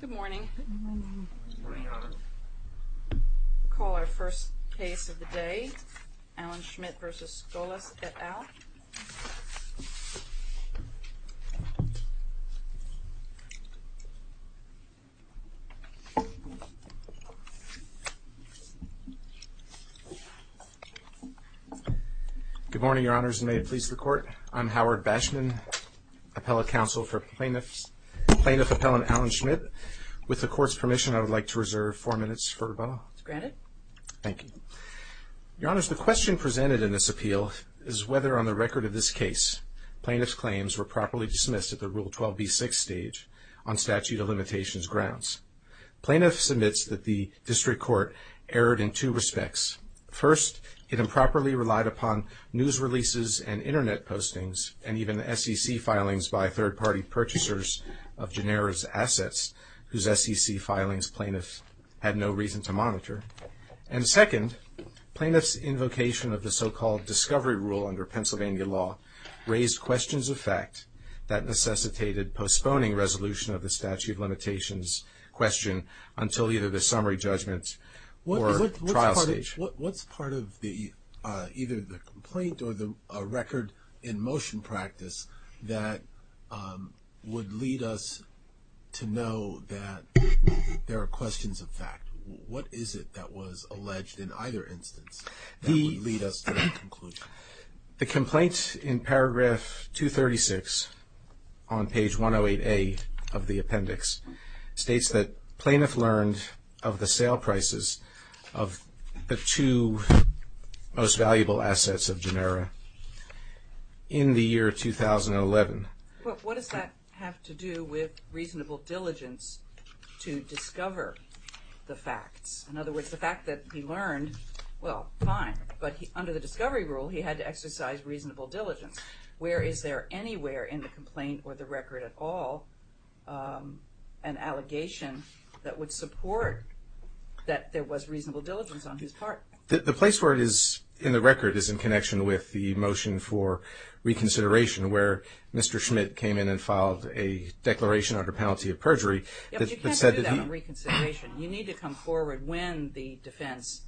Good morning. We'll call our first case of the day, Alan Schmidt v. Skolas et al. Good morning, Your Honors, and may it please the Court, I'm Howard Bashman, Appellate Counsel for Plaintiffs, Plaintiff Appellant Alan Schmidt. With the Court's permission, I would like to reserve four minutes for a vote. Granted. Thank you. Your Honors, the question presented in this appeal is whether, on the record of this case, plaintiff's claims were properly dismissed at the Rule 12b-6 stage on statute of limitations grounds. Plaintiff submits that the District Court erred in two respects. First, it improperly relied upon news releases and internet postings, and even SEC filings by third-party purchasers of Genera's assets, whose SEC filings plaintiff had no reason to monitor. And second, plaintiff's invocation of the so-called discovery rule under Pennsylvania law raised questions of fact that necessitated postponing resolution of the statute of limitations question until either the summary judgment or trial stage. What's part of either the complaint or the record in motion practice that would lead us to know that there are questions of fact? What is it that was alleged in either instance that would lead us to that conclusion? The complaint in paragraph 236 on page 108a of the appendix states that plaintiff learned of the sale prices of the two most valuable assets of Genera in the year 2011. What does that have to do with reasonable diligence to discover the facts? In other words, the fact that he learned, well, fine. But under the discovery rule, he had to exercise reasonable diligence. Where is there anywhere in the record an allegation that would support that there was reasonable diligence on his part? The place where it is in the record is in connection with the motion for reconsideration where Mr. Schmidt came in and filed a declaration under penalty of perjury. Yeah, but you can't do that in reconsideration. You need to come forward when the defense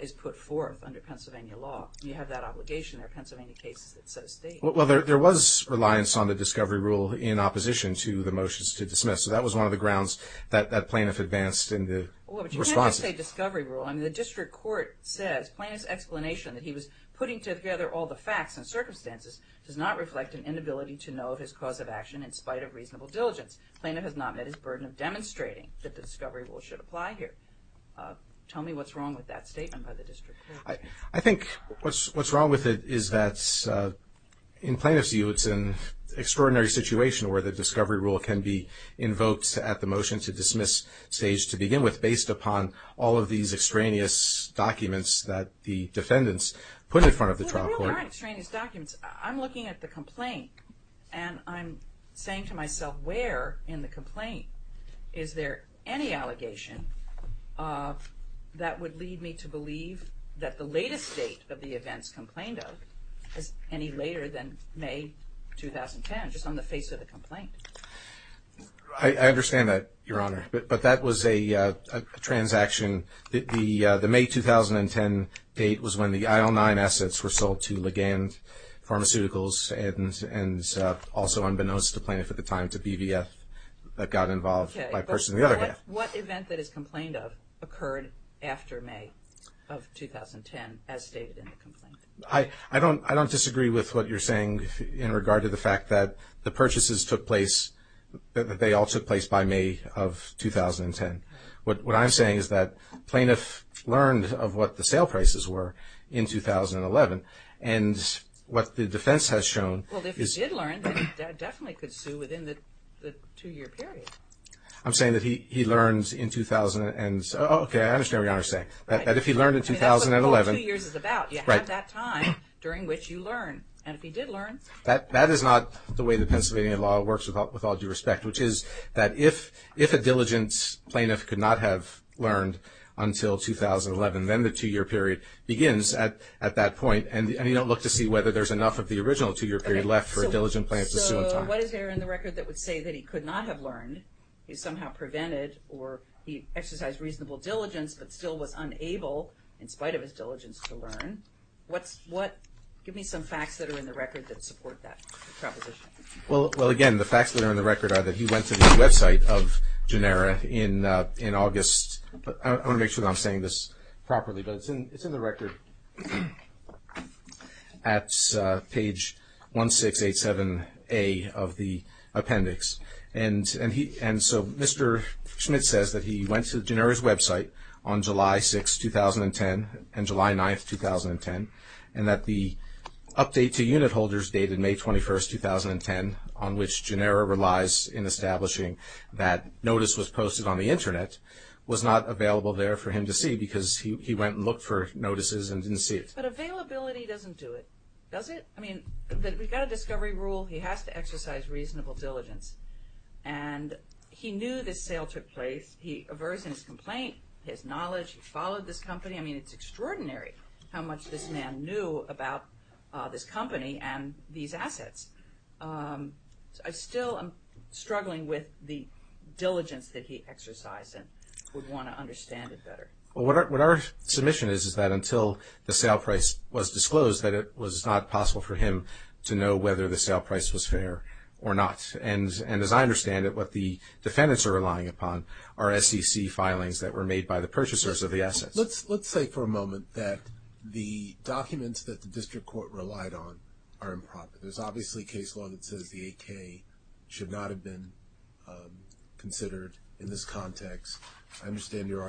is put forth under Pennsylvania law. You have that obligation. There are Pennsylvania cases that so state. Well, there was reliance on the discovery rule in opposition to the motions to dismiss. So that was one of the grounds that plaintiff advanced in the response. But you can't just say discovery rule. I mean, the district court says plaintiff's explanation that he was putting together all the facts and circumstances does not reflect an inability to know of his cause of action in spite of reasonable diligence. Plaintiff has not met his burden of demonstrating that the discovery rule should apply here. Tell me what's wrong with that In plaintiff's view, it's an extraordinary situation where the discovery rule can be invoked at the motion to dismiss stage to begin with based upon all of these extraneous documents that the defendants put in front of the trial court. Well, they're not extraneous documents. I'm looking at the complaint and I'm saying to myself, where in the complaint is there any allegation that would lead me to believe that the latest date of the events complained of is any later than May 2010, just on the face of the complaint? I understand that, Your Honor. But that was a transaction. The May 2010 date was when the IL-9 assets were sold to Legand Pharmaceuticals and also unbeknownst to plaintiff at the time to BVF that got involved by a person in the other half. Okay. But what event that is complained of occurred after May of 2010 as stated in the complaint? I don't disagree with what you're saying in regard to the fact that the purchases took place, that they all took place by May of 2010. What I'm saying is that plaintiff learned of what the sale prices were in 2011 and what the defense has shown is... Well, if he did learn, then he definitely could sue within the two-year period. I'm saying that he learned in 2000 and... Oh, okay. I understand what you're saying. That if he learned in 2011... That's what a full two years is about. You have that time during which you learn. And if he did learn... That is not the way the Pennsylvania law works with all due respect, which is that if a diligent plaintiff could not have learned until 2011, then the two-year period begins at that point and you don't look to see whether there's enough of the original two-year period left for a diligent plaintiff to sue in time. So what is there in the record that would say that he could not have learned, he somehow prevented or he exercised reasonable diligence but still was unable, in spite of his diligence, to learn? Give me some facts that are in the record that support that proposition. Well, again, the facts that are in the record are that he went to the website of Genera in August... I want to make sure that I'm saying this properly, but it's in the record at page 1687A of the appendix. And so Mr. Schmidt says that he went to Genera's website on July 6th, 2010 and July 9th, 2010, and that the update to unit holders dated May 21st, 2010, on which Genera relies in establishing that notice was because he went and looked for notices and didn't see it. But availability doesn't do it, does it? I mean, we've got a discovery rule, he has to exercise reasonable diligence and he knew this sale took place, he aversed in his complaint, his knowledge, he followed this company. I mean, it's extraordinary how much this man knew about this company and these assets. I still am What our submission is, is that until the sale price was disclosed that it was not possible for him to know whether the sale price was fair or not. And as I understand it, what the defendants are relying upon are SEC filings that were made by the purchasers of the assets. Let's say for a moment that the documents that the district court relied on are improper. There's obviously case law that says the AK should not have been considered in this context. I understand your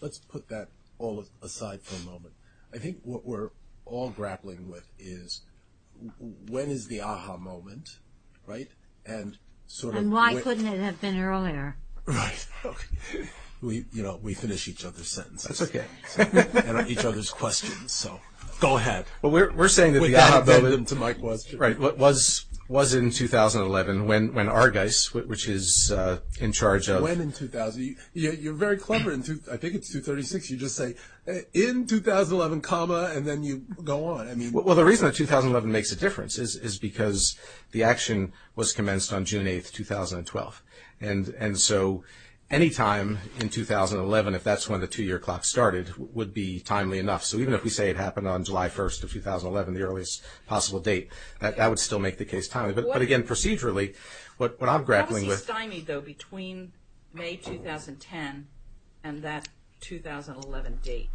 Let's put that all aside for a moment. I think what we're all grappling with is when is the aha moment, right? And sort of why couldn't it have been earlier? We, you know, we finish each other's sentences. Okay. And each other's questions. So go ahead. Well, we're saying that we have them to my question, right? What was, was in 2011 when, when Argeis, which is in charge of, you're very clever in two, I think it's 236. You just say in 2011 comma, and then you go on. I mean, well, the reason that 2011 makes a difference is because the action was commenced on June 8th, 2012. And, and so anytime in 2011, if that's when the two year clock started would be timely enough. So even if we say it happened on July 1st of 2011, the earliest possible date that that would still make the case timely. But again, procedurally, what I'm grappling with. How was he stymied though between May 2010 and that 2011 date?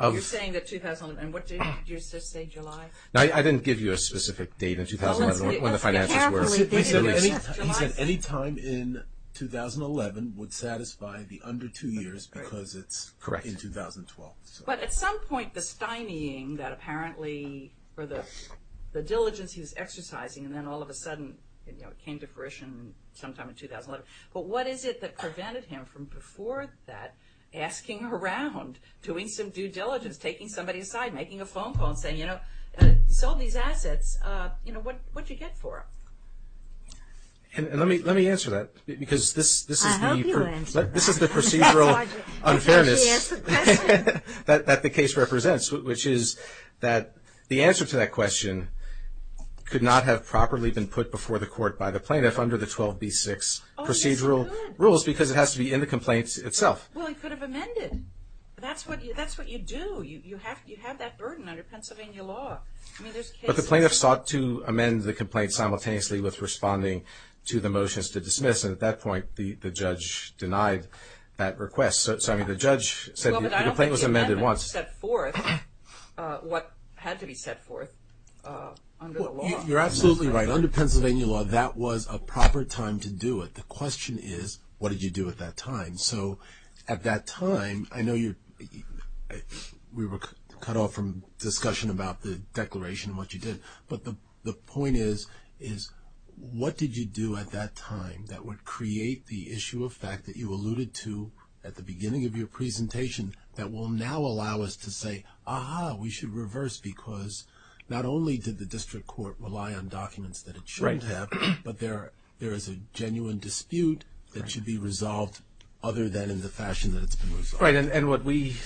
You're saying that 2011, and what did you just say, July? No, I didn't give you a specific date in 2011, when the finances were. He said any time in 2011 would satisfy the under two years because it's in 2012. But at some point, the stymying that apparently, or the, the diligence he was exercising, and then all of a sudden, you know, it came to fruition sometime in 2011. But what is it that prevented him from before that asking around, doing some due diligence, taking somebody aside, making a phone call and saying, you know, solve these assets, you know, what, what'd you get for them? And let me, let me answer that because this, this is, this is the procedural unfairness. That, that the case represents, which is that the answer to that question could not have properly been put before the court by the plaintiff under the 12B6 procedural rules, because it has to be in the complaint itself. Well, he could have amended. That's what, that's what you do. You, you have, you have that burden under Pennsylvania law. I mean, there's cases. But the plaintiff sought to amend the complaint simultaneously with responding to the motions to dismiss. And at that point, the, the judge denied that request. So, I mean, the judge said the complaint was amended once. Well, but I don't think the amendment set forth what had to be set forth under the law. You're absolutely right. Under Pennsylvania law, that was a proper time to do it. The question is, what did you do at that time? So at that time, I know you, we were cut off from discussion about the declaration and what you did. But the, the point is, is what did you do at that time that would create the issue of fact that you alluded to at the beginning of your presentation that will now allow us to say, ah-ha, we should reverse, because not only did the district court rely on documents that it shouldn't have, but there, there is a genuine dispute that should be resolved other than in the fashion that it's been resolved. Right. And, and what we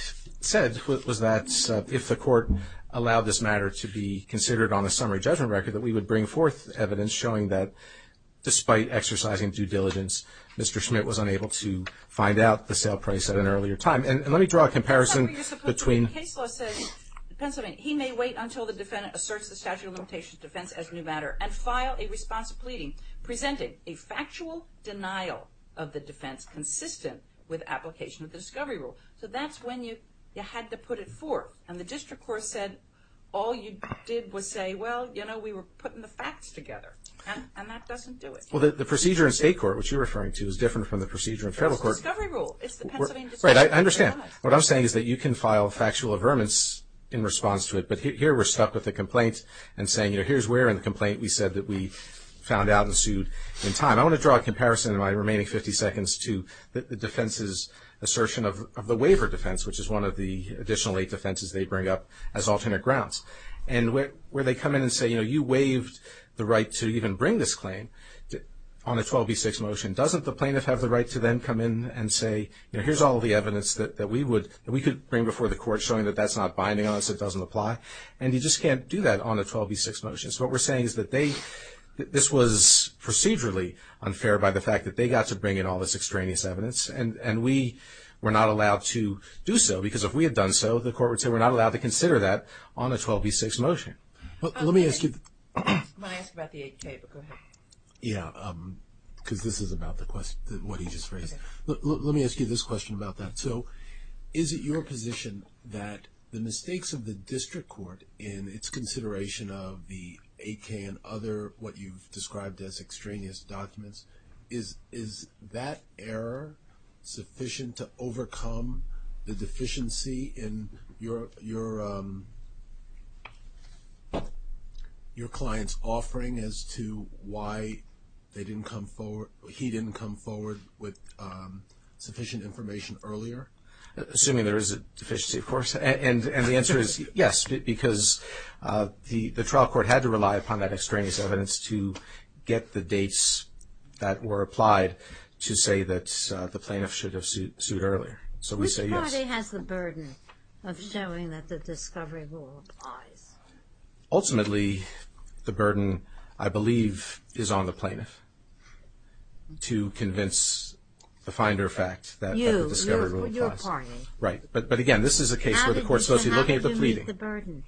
said was that if the court allowed this matter to be considered on a summary judgment record, that we would bring forth evidence showing that despite exercising due diligence, Mr. Schmidt was unable to find out the sale price at an earlier time. And let me draw a comparison between. The case law says, Pennsylvania, he may wait until the defendant asserts the statute of limitations defense as a new matter and file a response pleading presenting a factual denial of the defense consistent with application of the discovery rule. So that's when you, you had to put it forth. And the district court said, all you did was say, well, you know, we were putting the facts together and, and that doesn't do it. Well, the procedure in state court, which you're referring to is different from the procedure in federal court. It's the discovery rule. It's the Pennsylvania. Right. I understand. What I'm saying is that you can file factual averments in response to it, but here we're stuck with the complaint and saying, you know, here's where in the complaint we said that we found out and sued in time. I want to draw a comparison in my remaining 50 seconds to the defense's assertion of, of the waiver defense, which is one of the additional eight defenses they bring up as alternate grounds. And where, where they come in and say, you know, you waived the right to even bring this claim on a 12B6 motion, doesn't the plaintiff have the right to then come in and say, you know, here's all the evidence that we would, that we could bring before the court showing that that's not binding on us. It doesn't apply. And you just can't do that on a 12B6 motion. So what we're saying is that they, this was procedurally unfair by the fact that they got to bring in all this extraneous evidence. And we were not allowed to do so because if we had done so, the court would say, we're not allowed to consider that on a 12B6 motion. Let me ask you. I want to ask about the 8K, but go ahead. Yeah. Cause this is about the question, what he just raised. Let me ask you this question about that. So is it your position that the mistakes of the district court in its consideration of the 8K and other, what you've described as extraneous documents is, is that error sufficient to overcome the deficiency in your, your, your client's offering as to why they didn't come forward, he didn't come forward with sufficient information earlier? Assuming there is a deficiency, of course. And the answer is yes, because the trial court had to rely upon that extraneous evidence to get the dates that were applied to say that the plaintiff should have sued earlier. So we say yes. Which party has the burden of showing that the discovery rule applies? Ultimately, the burden, I believe, is on the plaintiff to convince the finder fact that the discovery rule applies. You, your party. Right. But again, this is a case where the court's supposed to be looking at the pleading. How did you meet the burden?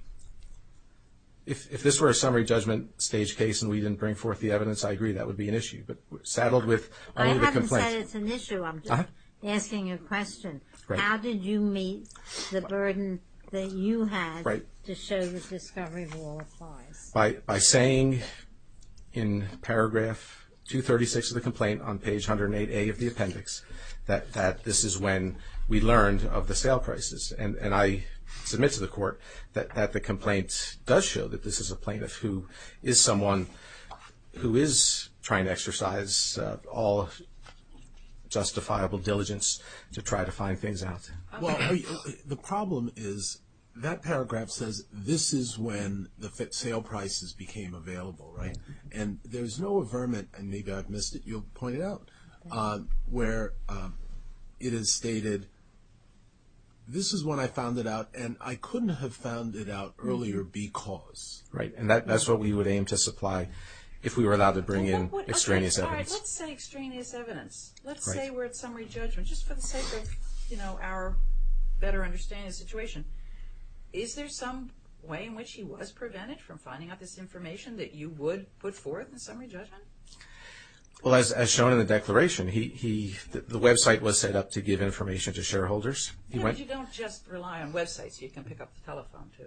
If this were a summary judgment stage case and we didn't bring forth the evidence, I agree, that would be an issue. But we're saddled with only the complaint. I haven't said it's an issue. Asking a question. How did you meet the burden that you had to show the discovery rule applies? By, by saying in paragraph 236 of the complaint on page 108A of the appendix that, that this is when we learned of the sale prices. And, and I submit to the court that, that the complaint does show that this is a plaintiff who is someone who is trying to exercise all justifiable diligence to try to find things out. Well, the problem is that paragraph says, this is when the sale prices became available, right? And there's no averment, and maybe I've missed it, you'll point it out, where it is stated, this is when I found it out and I couldn't have found it out earlier because. Right. And that, that's what we would aim to supply if we were allowed to bring in extraneous evidence. Let's say extraneous evidence. Let's say we're at summary judgment, just for the sake of, you know, our better understanding of the situation. Is there some way in which he was prevented from finding out this information that you would put forth in summary judgment? Well, as, as shown in the declaration, he, he, the website was set up to give information to shareholders. Yeah, but you don't just rely on websites. You can pick up the telephone too.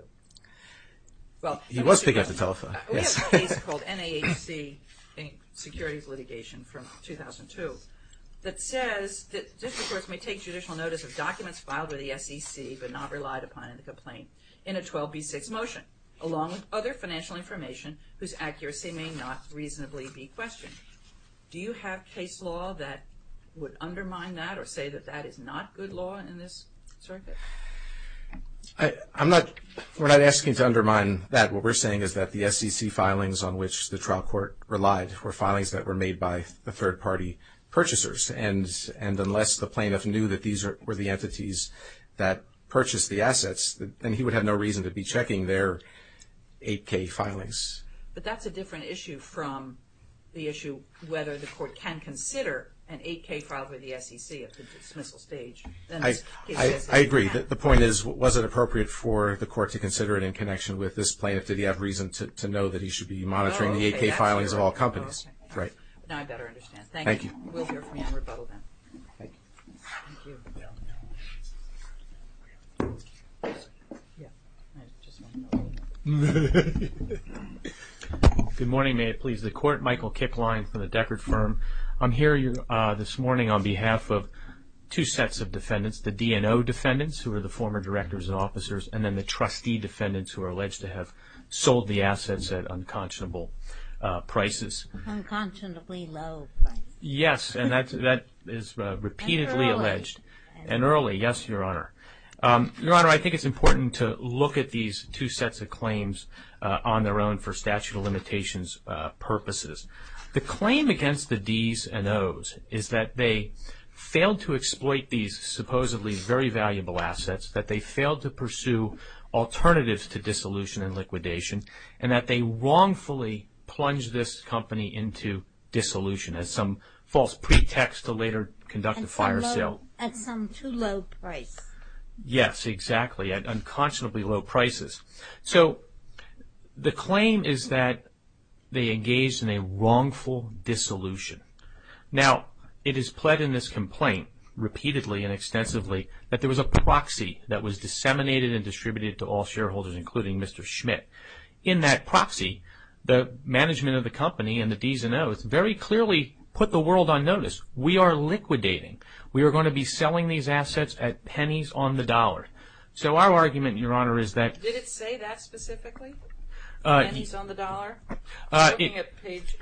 Well, he was picking up the telephone, yes. We have a case called NAHC in securities litigation from 2002 that says that district courts may take judicial notice of documents filed with the SEC but not relied upon in the complaint in a 12b6 motion, along with other financial information whose accuracy may not reasonably be questioned. Do you have case law that would undermine that or say that that is not good law in this circuit? I, I'm not, we're not asking to undermine that. What we're saying is that the SEC filings on which the court relied were filings that were made by the third party purchasers. And, and unless the plaintiff knew that these were the entities that purchased the assets, then he would have no reason to be checking their 8k filings. But that's a different issue from the issue whether the court can consider an 8k file with the SEC at the dismissal stage. I, I agree. The point is, was it appropriate for the court to consider it in connection with this plaintiff? Did he have reason to know that he should be monitoring the 8k filings of all companies? Right. Now I better understand. Thank you. We'll hear from you on rebuttal then. Thank you. Good morning, may it please the court. Michael Kipline for the Deckard Firm. I'm here this morning on behalf of two sets of defendants, the DNO defendants, who are the former directors and officers, and then the trustee defendants who are alleged to have sold the assets at unconscionable prices. Unconscionably low prices. Yes, and that, that is repeatedly alleged. And early. And early, yes, your honor. Your honor, I think it's important to look at these two sets of claims on their own for statute of limitations purposes. The claim against the D's and O's is that they failed to exploit these supposedly very valuable assets, that they failed to pursue alternatives to dissolution and liquidation, and that they wrongfully plunged this company into dissolution as some false pretext to later conduct a fire sale. At some too low price. Yes, exactly, at unconscionably low prices. So the claim is that they engaged in a wrongful dissolution. Now it is pled in this complaint repeatedly and extensively that there was a proxy that was disseminated and distributed to all shareholders including Mr. Schmidt. In that proxy, the management of the company and the D's and O's very clearly put the world on notice. We are liquidating. We are going to be selling these assets at pennies on the dollar. So our argument, your honor, is that... Did it say that specifically? Pennies on the dollar? I'm looking at page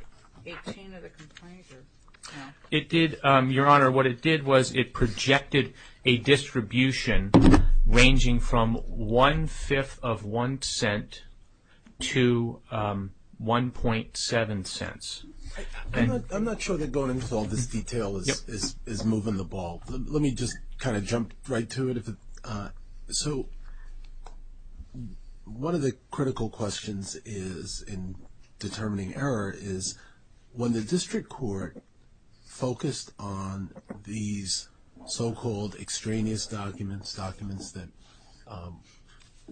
18 of the complaint. It did, your honor, what it did was it projected a distribution ranging from one-fifth of one cent to 1.7 cents. I'm not sure that going into all this detail is moving the ball. Let me just kind of jump right to it. So one of the critical questions in determining error is when the district court focused on these so-called extraneous documents, documents that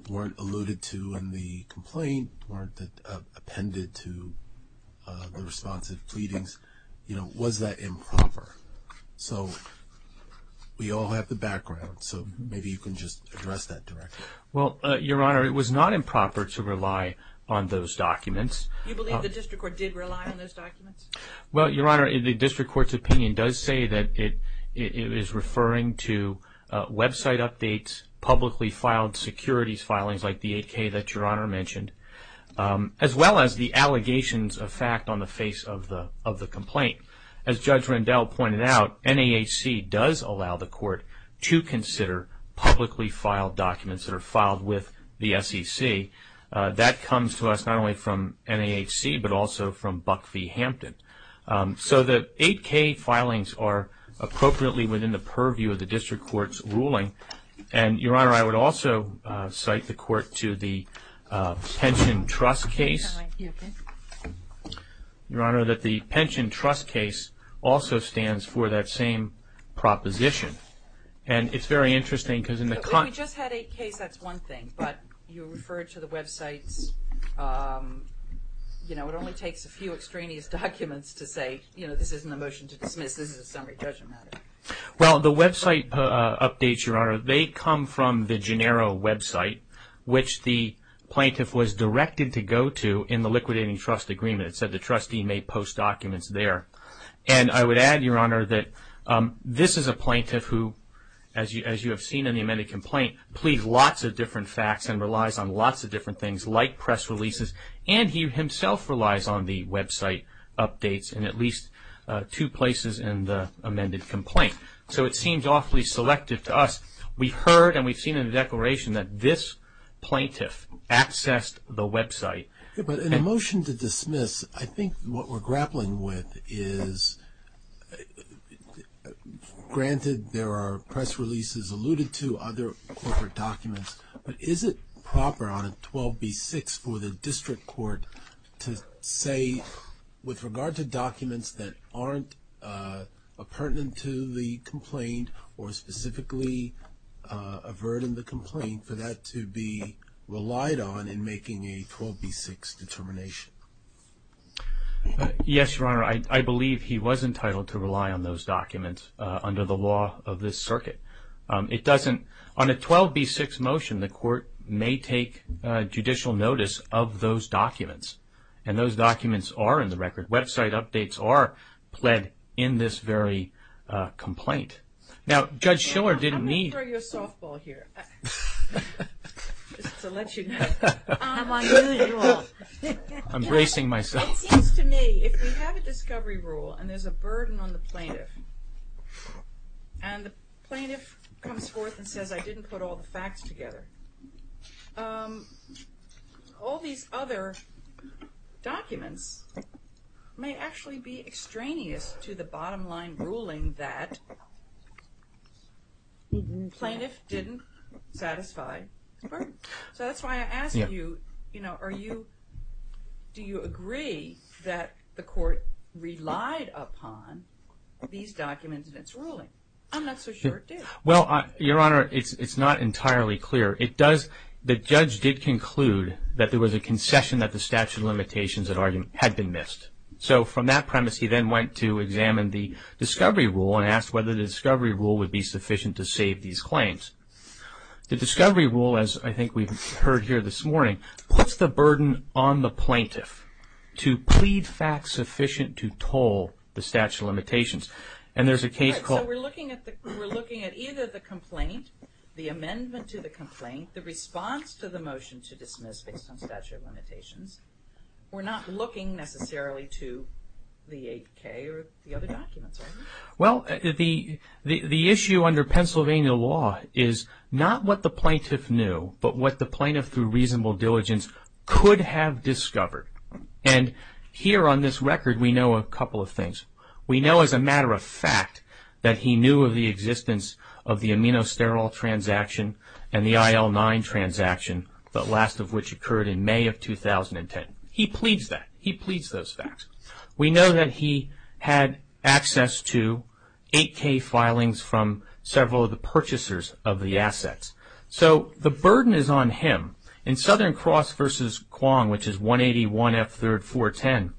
weren't alluded to in the complaint, weren't appended to the responsive pleadings, you know, was that improper? So we all have the background, so maybe you can just address that directly. Well, your honor, it was not improper to rely on those documents. You believe the district court did rely on those documents? Well, your honor, the district court's opinion does say that it is referring to website updates, publicly filed securities filings like the 8k that your honor mentioned, as well as the allegations of fact on the face of the complaint. As Judge Rendell pointed out, NAHC does allow the court to consider publicly filed documents that are filed with the SEC. That comes to us not only from NAHC but also from Buck v. Hampton. So the 8k filings are appropriately within the purview of the district court's ruling, and your honor, I would also cite the court to the pension trust case. Your honor, that the pension trust case also stands for that same proposition, and it's very interesting because in the... We just had 8k, that's one thing, but you referred to the websites, you know, it only takes a few extraneous documents to say, you know, this isn't a motion to dismiss, this is a summary judgment. Well, the website updates, they come from the Gennaro website, which the plaintiff was directed to go to in the liquidating trust agreement. It said the trustee may post documents there, and I would add, your honor, that this is a plaintiff who, as you have seen in the amended complaint, pleads lots of different facts and relies on lots of different things like press releases, and he himself relies on the website updates in at least two places in the amended complaint. So it seems awfully selective to us. We've heard and we've seen in the declaration that this plaintiff accessed the website. But in a motion to dismiss, I think what we're grappling with is, granted there are press releases alluded to other corporate documents, but is it proper on 12b6 for the district court to say, with regard to documents that aren't pertinent to the complaint or specifically averting the complaint, for that to be relied on in making a 12b6 determination? Yes, your honor, I believe he was entitled to rely on those documents under the law of this documents, and those documents are in the record. Website updates are pled in this very complaint. Now, Judge Schiller didn't need... I'm going to throw you a softball here, just to let you know. I'm bracing myself. It seems to me, if we have a discovery rule and there's a burden on the plaintiff, and the plaintiff comes forth and says, I didn't put all the facts together, all these other documents may actually be extraneous to the bottom line ruling that plaintiff didn't satisfy his burden. So that's why I asked you, do you agree that the court relied upon these documents in its ruling? I'm not so sure it did. Well, your honor, it's not entirely clear. The judge did conclude that there was a concession that the statute of limitations had been missed. So from that premise, he then went to examine the discovery rule and asked whether the discovery rule would be sufficient to save these claims. The discovery rule, as I think we've heard here this morning, puts the burden on the plaintiff to plead facts sufficient to toll the statute of limitations. And there's a case called... We're looking at either the complaint, the amendment to the complaint, the response to the motion to dismiss based on statute of limitations. We're not looking necessarily to the 8K or the other documents, are we? Well, the issue under Pennsylvania law is not what the plaintiff knew, but what the plaintiff through reasonable diligence could have discovered. And here on this record, we know a couple of facts that he knew of the existence of the aminosterol transaction and the IL-9 transaction, the last of which occurred in May of 2010. He pleads that. He pleads those facts. We know that he had access to 8K filings from several of the purchasers of the assets. So the burden is on him. In Southern Cross v. Kwong, which is 180.1.F.3.410,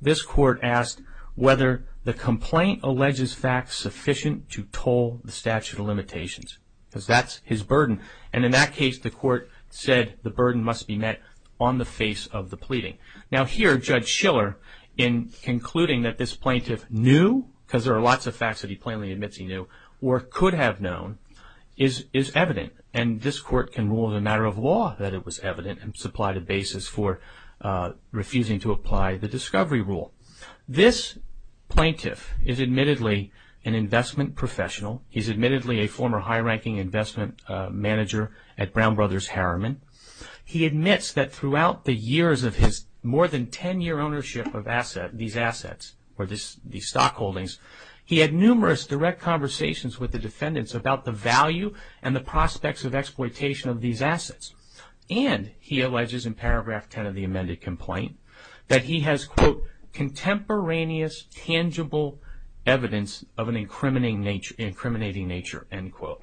this court asked whether the complaint alleges facts sufficient to toll the statute of limitations, because that's his burden. And in that case, the court said the burden must be met on the face of the pleading. Now here, Judge Schiller, in concluding that this plaintiff knew, because there are lots of facts he plainly admits he knew, or could have known, is evident. And this court can rule in a matter of law that it was evident and supply the basis for refusing to apply the discovery rule. This plaintiff is admittedly an investment professional. He's admittedly a former high-ranking investment manager at Brown Brothers Harriman. He admits that throughout the years of more than 10-year ownership of these assets, or these stock holdings, he had numerous direct conversations with the defendants about the value and the prospects of exploitation of these assets. And he alleges in paragraph 10 of the amended complaint that he has, quote, contemporaneous tangible evidence of an incriminating nature, end quote.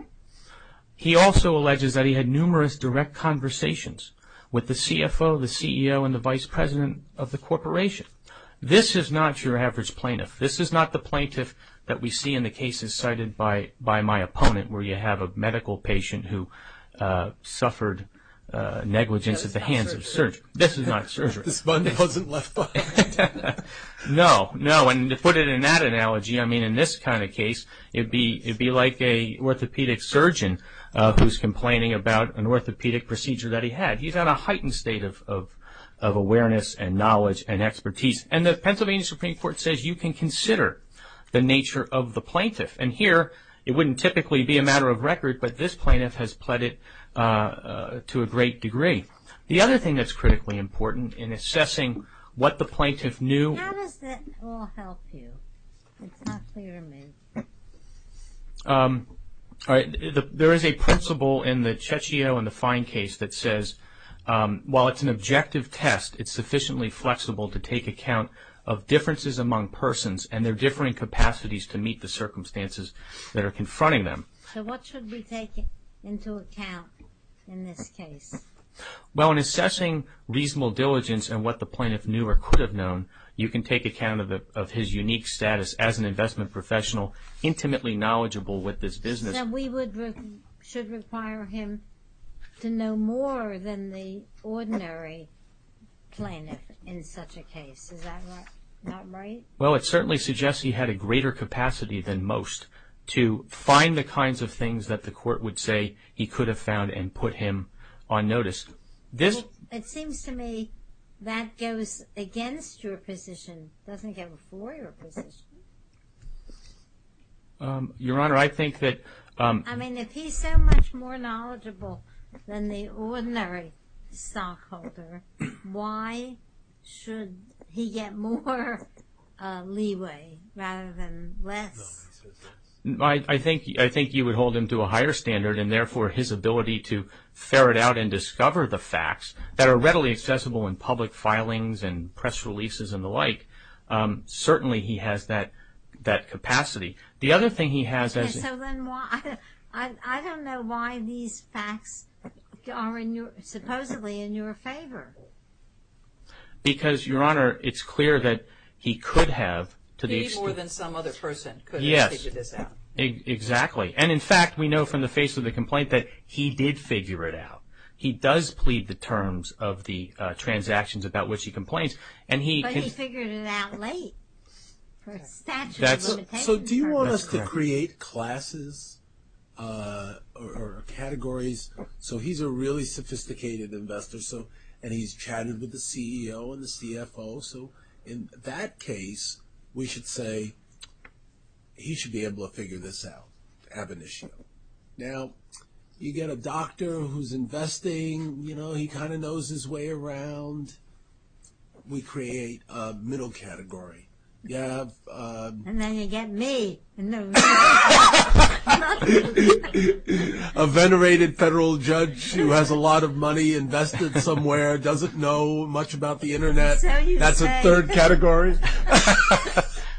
He also alleges that he had numerous direct conversations with the CFO, the CEO, and the vice president of the corporation. This is not your average plaintiff. This is not the plaintiff that we see in the cases cited by my opponent, where you have a medical patient who suffered negligence at the hands of surgery. This is not surgery. This one wasn't left on. No, no. And to put it in that analogy, I mean, in this kind of case, it'd be like an orthopedic surgeon who's complaining about an orthopedic procedure that he had. He's on a heightened state of awareness and knowledge and expertise. And the Pennsylvania Supreme Court says you can consider the nature of the plaintiff. And here, it wouldn't typically be a matter of record, but this plaintiff has pled it to a great degree. The other thing that's critically important in assessing what the plaintiff knew. How does that all help you? It's not clear to me. There is a principle in the Cecchio and the Fine case that says, while it's an objective test, it's sufficiently flexible to take account of differences among persons and their differing capacities to meet the circumstances that are confronting them. So what should be taken into account in this case? Well, in assessing reasonable diligence and what the plaintiff knew or could have known, you can take account of his unique status as an investment professional, intimately knowledgeable with this business. So we should require him to know more than the ordinary plaintiff in such a case. Is that not right? Well, it certainly suggests he had a greater capacity than most to find the kinds of things that the court would say he could have found and put him on notice. Well, it seems to me that goes against your position. It doesn't go before your position. Your Honor, I think that... I mean, if he's so much more knowledgeable than the ordinary stockholder, why should he get more leeway rather than less? I think you would hold him to a higher standard and therefore his ability to discover the facts that are readily accessible in public filings and press releases and the like, certainly he has that capacity. The other thing he has... Yes, so then why... I don't know why these facts are supposedly in your favor. Because, Your Honor, it's clear that he could have... He more than some other person could have figured this out. Exactly. And in fact, we know from the face of the complaint that he did figure it out. He does plead the terms of the transactions about which he complains. But he figured it out late for a statute of limitations. So do you want us to create classes or categories? So he's a really sophisticated investor and he's chatted with the CEO and the CFO. So in that case, we should say he should be able to figure this out, ab initio. Now, you get a doctor who's investing, you know, he kind of knows his way around. We create a middle category. And then you get me. A venerated federal judge who has a lot of money invested somewhere, doesn't know much about the internet. That's a third category.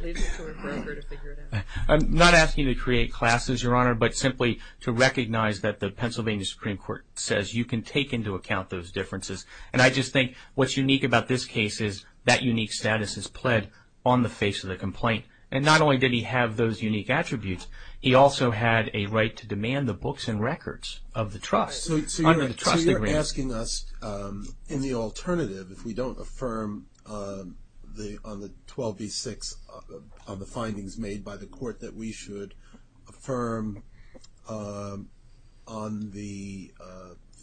Leads to a broker to figure it out. I'm not asking you to create classes, Your Honor, but simply to recognize that the Pennsylvania Supreme Court says you can take into account those differences. And I just think what's unique about this case is that unique status is pled on the face of the complaint. And not only did he have those unique attributes, he also had a right to demand the books and records of the trust. So you're asking us, in the alternative, if we don't affirm on the 12 v. 6, on the findings made by the court that we should affirm on the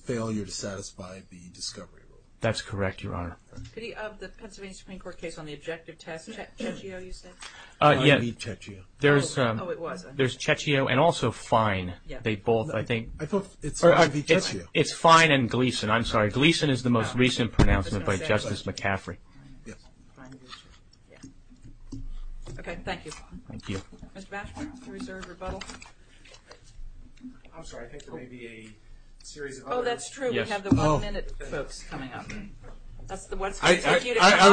failure to satisfy the discovery rule. That's correct, Your Honor. Could he, of the Pennsylvania Supreme Court case on the objective test, Checchio, you said? I believe Checchio. There's Checchio and also Fine. They both, I think. It's Fine and Gleason. I'm sorry. Gleason is the most recent pronouncement by Justice McCaffrey. Okay, thank you. Thank you. Mr. Bashford, do you reserve rebuttal? I'm sorry, I think there may be a series of others. Oh, that's true. We have the one-minute folks coming up. I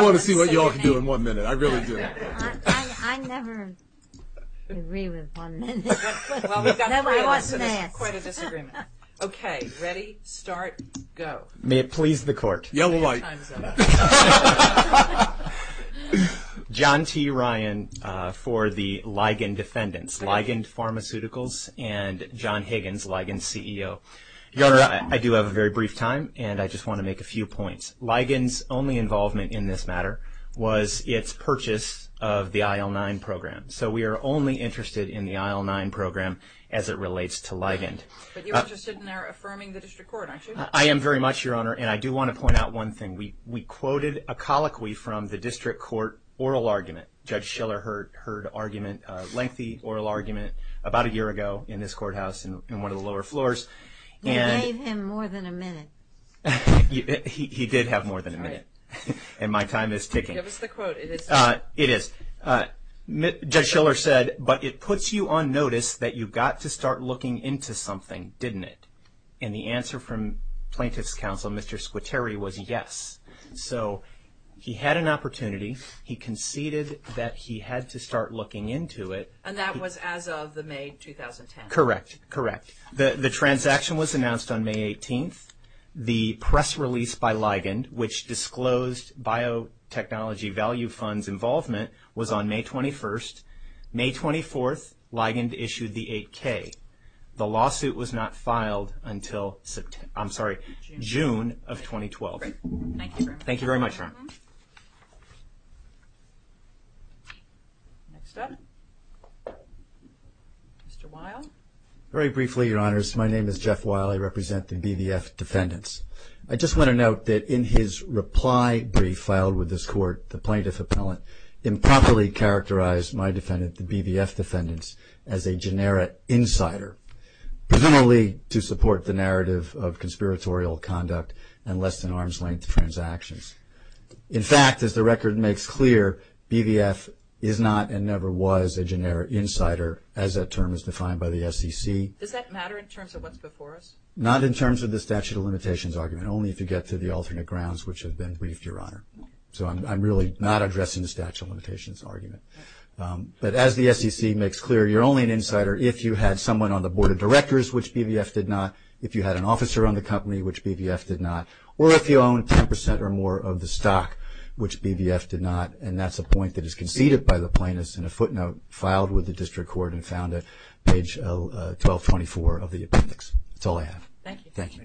want to see what y'all can do in one minute. I really do. I never agree with one minute. Quite a disagreement. Okay, ready, start, go. May it please the court. Yellow light. John T. Ryan for the Ligon defendants. Ligon Pharmaceuticals and John Higgins, Ligon's CEO. I do have a very brief time and I just want to make a few points. Ligon's only involvement in this matter was its purchase of the IL-9 program. So we are only interested in the IL-9 program as it relates to Ligon. But you're interested in our affirming the district court, aren't you? I am very much, Your Honor. And I do want to point out one thing. We quoted a colloquy from the district court oral argument. Judge Schiller heard lengthy oral argument about a year ago in this courthouse in one of the lower floors. You gave him more than a minute. He did have more than a minute and my time is ticking. Give us the quote. It is. Judge Schiller said, but it puts you on notice that you got to start looking into something, didn't it? And the answer from plaintiff's counsel, Mr. Squitieri, was yes. So he had an opportunity. He conceded that he had to start looking into it. And that was as of the May 2010? Correct. Correct. The transaction was announced on May 18th. The press release by Ligon, which disclosed biotechnology value funds involvement, was on May 21st. May 24th, Ligon issued the 8K. The lawsuit was not filed until, I'm sorry, June of 2012. Great. Thank you very much. Thank you very much, Ron. Next up, Mr. Weil. Very briefly, Your Honors. My name is Jeff Weil. I represent the BVF defendants. I just want to note that in his reply brief filed with this court, the plaintiff appellant improperly characterized my defendant, the BVF defendants, as a generic insider, presumably to support the narrative of conspiratorial conduct and less-than-arm's-length transactions. In fact, as the record makes clear, BVF is not and never was a generic insider, as that term is defined by the SEC. Does that matter in terms of what's before us? Not in terms of the statute of limitations argument, only if you get to the alternate grounds which have been briefed, Your Honor. So I'm really not addressing the statute of limitations argument. But as the SEC makes clear, you're only an insider if you had someone on the board of directors, which BVF did not, if you had an officer on the company, which BVF did not, or if you own 10 percent or more of the stock, which BVF did not. And that's a point that is conceded by the plaintiff in a footnote filed with the district court and found at page 1224 of the appendix. That's all I have. Thank you. Thank you.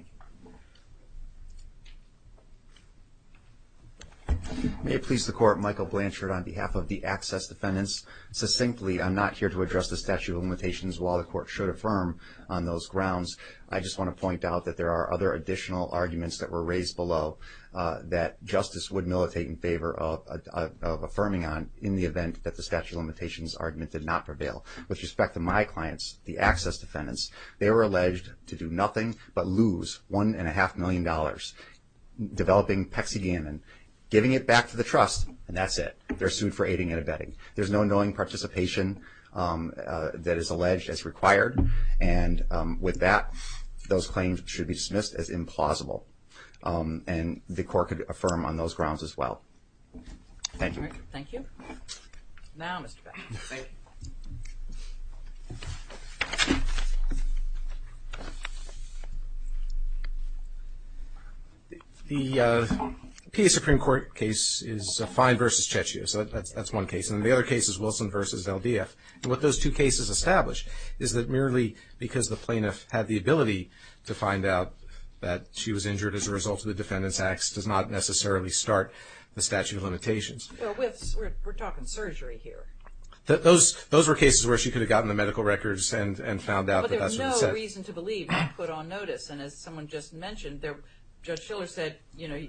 May it please the Court, Michael Blanchard on behalf of the access defendants. Succinctly, I'm not here to address the statute of limitations while the Court should affirm on those grounds. I just want to point out that there are other additional arguments that were raised below that Justice would militate in favor of affirming on in the event that the statute of limitations argument did not prevail. With respect to my clients, the access defendants, they were alleged to do nothing but lose $1.5 million, developing PECCDM and giving it back to the trust, and that's it. They're sued for aiding and abetting. There's no knowing participation that is alleged as required, and with that, those claims should be dismissed as implausible. And the Court could affirm on those grounds as well. Thank you. Thank you. Now, Mr. Beck. Thank you. The PA Supreme Court case is Fine v. Cecchio, so that's one case. And the other case is Wilson v. LDF. And what those two cases establish is that merely because the plaintiff had the ability to find out that she was injured as a result of the defendants' acts does not necessarily start the statute of limitations. Well, we're talking surgery here. Those were cases where she could have gotten the medical records and found out that that's what it said. But there's no reason to believe not put on notice. And as someone just mentioned, Judge Shiller said, you know,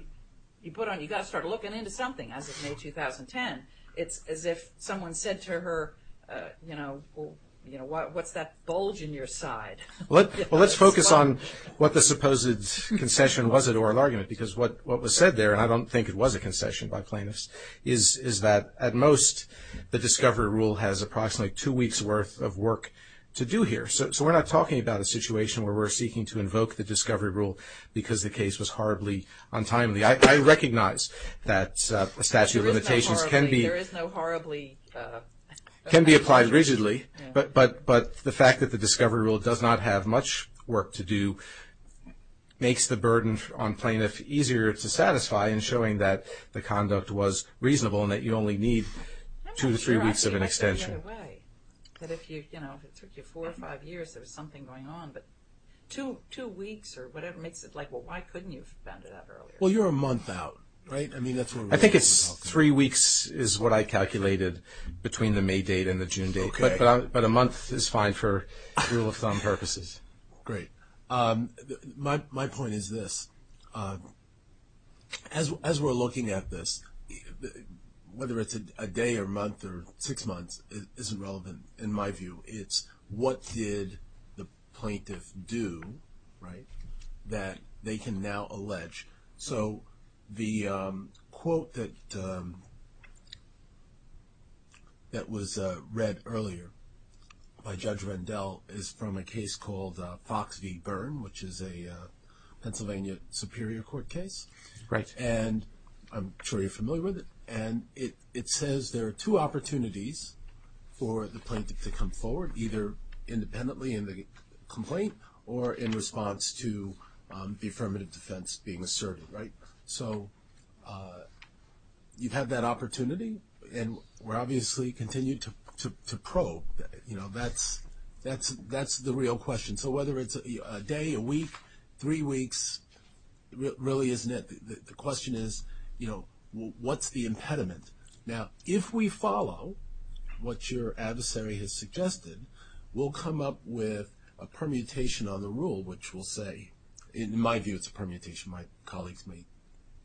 you've got to start looking into something, as of May 2010. It's as if someone said to her, you know, what's that bulge in your side? Well, let's focus on what the supposed concession was in oral argument, because what was said there, and I don't think it was a concession by plaintiffs, is that at most the discovery rule has approximately two weeks' worth of work to do here. So we're not talking about a situation where we're seeking to invoke the discovery rule because the case was horribly untimely. I recognize that a statute of limitations can be applied rigidly, but the fact that the discovery rule does not have much work to do makes the burden on plaintiffs easier to satisfy in showing that the conduct was reasonable and that you only need two to three weeks of an extension. I'm not sure I see it that way, that if you, you know, it took you four or five years, there was something going on. But two weeks or whatever makes it like, well, why couldn't you have found it out earlier? Well, you're a month out, right? I mean, that's what we're talking about. I think it's three weeks is what I calculated between the May date and the June date. Okay. But a month is fine for rule of thumb purposes. Great. My point is this. As we're looking at this, whether it's a day or month or six months isn't relevant in my view. It's what did the plaintiff do, right, that they can now allege. So the quote that was read earlier by Judge Rendell is from a case called Fox v. Byrne, which is a Pennsylvania Superior Court case. Right. And I'm sure you're familiar with it. And it says there are two opportunities for the plaintiff to come forward, either independently in the complaint or in response to the affirmative defense being asserted. Right. So you have that opportunity, and we're obviously continuing to probe. That's the real question. So whether it's a day, a week, three weeks, really isn't it. The question is, what's the impediment? Now, if we follow what your adversary has suggested, we'll come up with a permutation on the rule, which will say, in my view, it's a permutation. My colleagues may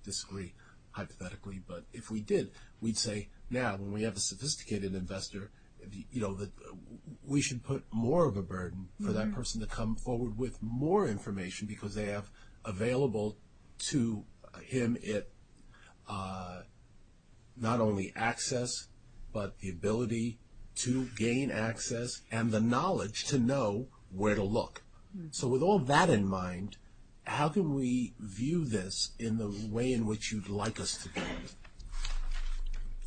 disagree hypothetically, but if we did, we'd say, now when we have a sophisticated investor, we should put more of a burden for that person to come forward with more information, because they have available to him not only access, but the ability to gain access and the knowledge to know where to look. So with all that in mind, how can we view this in the way in which you'd like us to do it?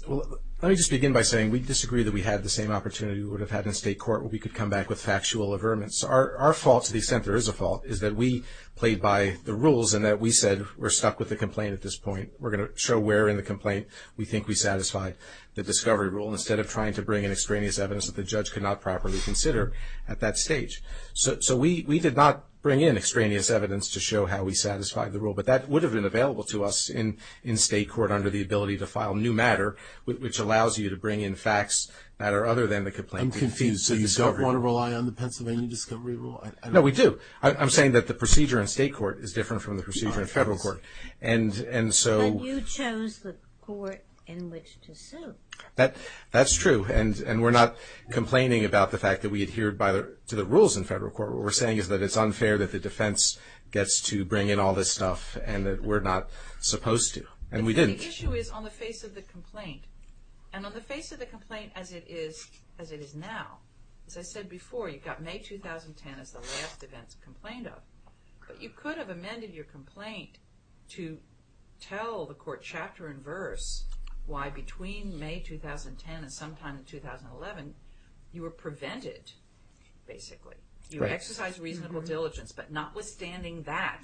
Well, let me just begin by saying we disagree that we had the same opportunity we would have had in state court where we could come back with factual averments. Our fault, to the extent there is a fault, is that we played by the rules and that we said we're stuck with the complaint at this point. We're going to show where in the complaint we think we satisfied the discovery rule instead of trying to bring in extraneous evidence that the judge could not properly consider at that stage. So we did not bring in extraneous evidence to show how we satisfied the rule, but that would have been available to us in state court under the ability to file new matter, which allows you to bring in facts that are other than the complaint. I'm confused. So you don't want to rely on the Pennsylvania discovery rule? No, we do. I'm saying that the procedure in state court is different from the procedure in federal court. And so... But you chose the court in which to sue. That's true. And we're not complaining about the fact that we adhered to the rules in federal court. What we're saying is that it's unfair that the defense gets to bring in all this stuff and that we're not supposed to. And we didn't. The issue is on the face of the complaint. And on the face of the complaint as it is now, as I said before, you've got May 2010 as the last event to complain of. But you could have amended your complaint to tell the court chapter and verse why between May 2010 and sometime in 2011, you were prevented, basically. You exercised reasonable diligence, but notwithstanding that,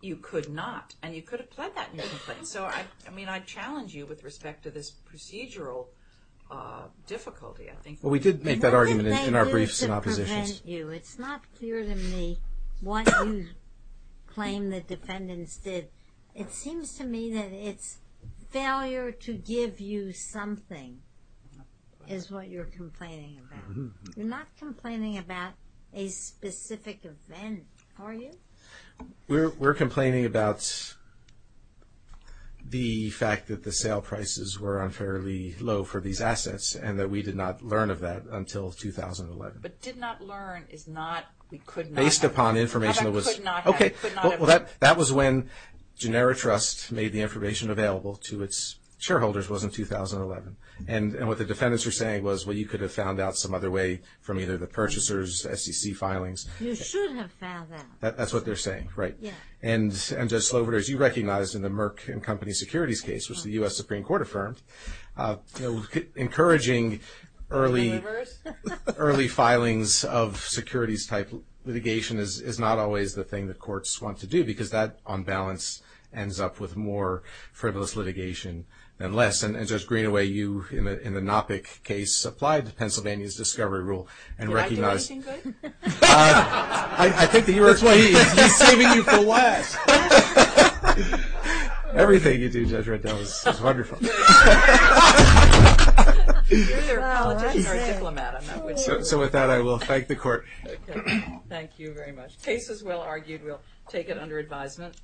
you could not. And you could have pled that in your complaint. So, I mean, I challenge you with respect to this procedural difficulty, I think. Well, we did make that argument in our briefs and oppositions. It's not clear to me what you claim the defendants did. It seems to me that it's failure to give you something is what you're complaining about. You're not complaining about a specific event, are you? We're complaining about the fact that the sale prices were unfairly low for these assets and that we did not learn of that until 2011. But did not learn is not, we could not. Based upon information that was. Okay, well, that was when Genera Trust made the information available to its shareholders was in 2011. And what the defendants were saying was, well, you could have found out some other way from either the purchasers, SEC filings. You should have found out. That's what they're saying, right? Yeah. And Judge Slover, as you recognized in the Merck and Company Securities case, which the U.S. Supreme Court affirmed, encouraging early filings of securities-type litigation is not always the thing the courts want to do because that, on balance, ends up with more frivolous litigation than less. And Judge Greenaway, you, in the Knoppick case, applied Pennsylvania's discovery rule and recognized- Did I do anything good? I think that you were- That's why he's saving you for last. Everything you do, Judge Reddell, is wonderful. So with that, I will thank the court. Thank you very much. Case is well argued. We'll take it under advisement.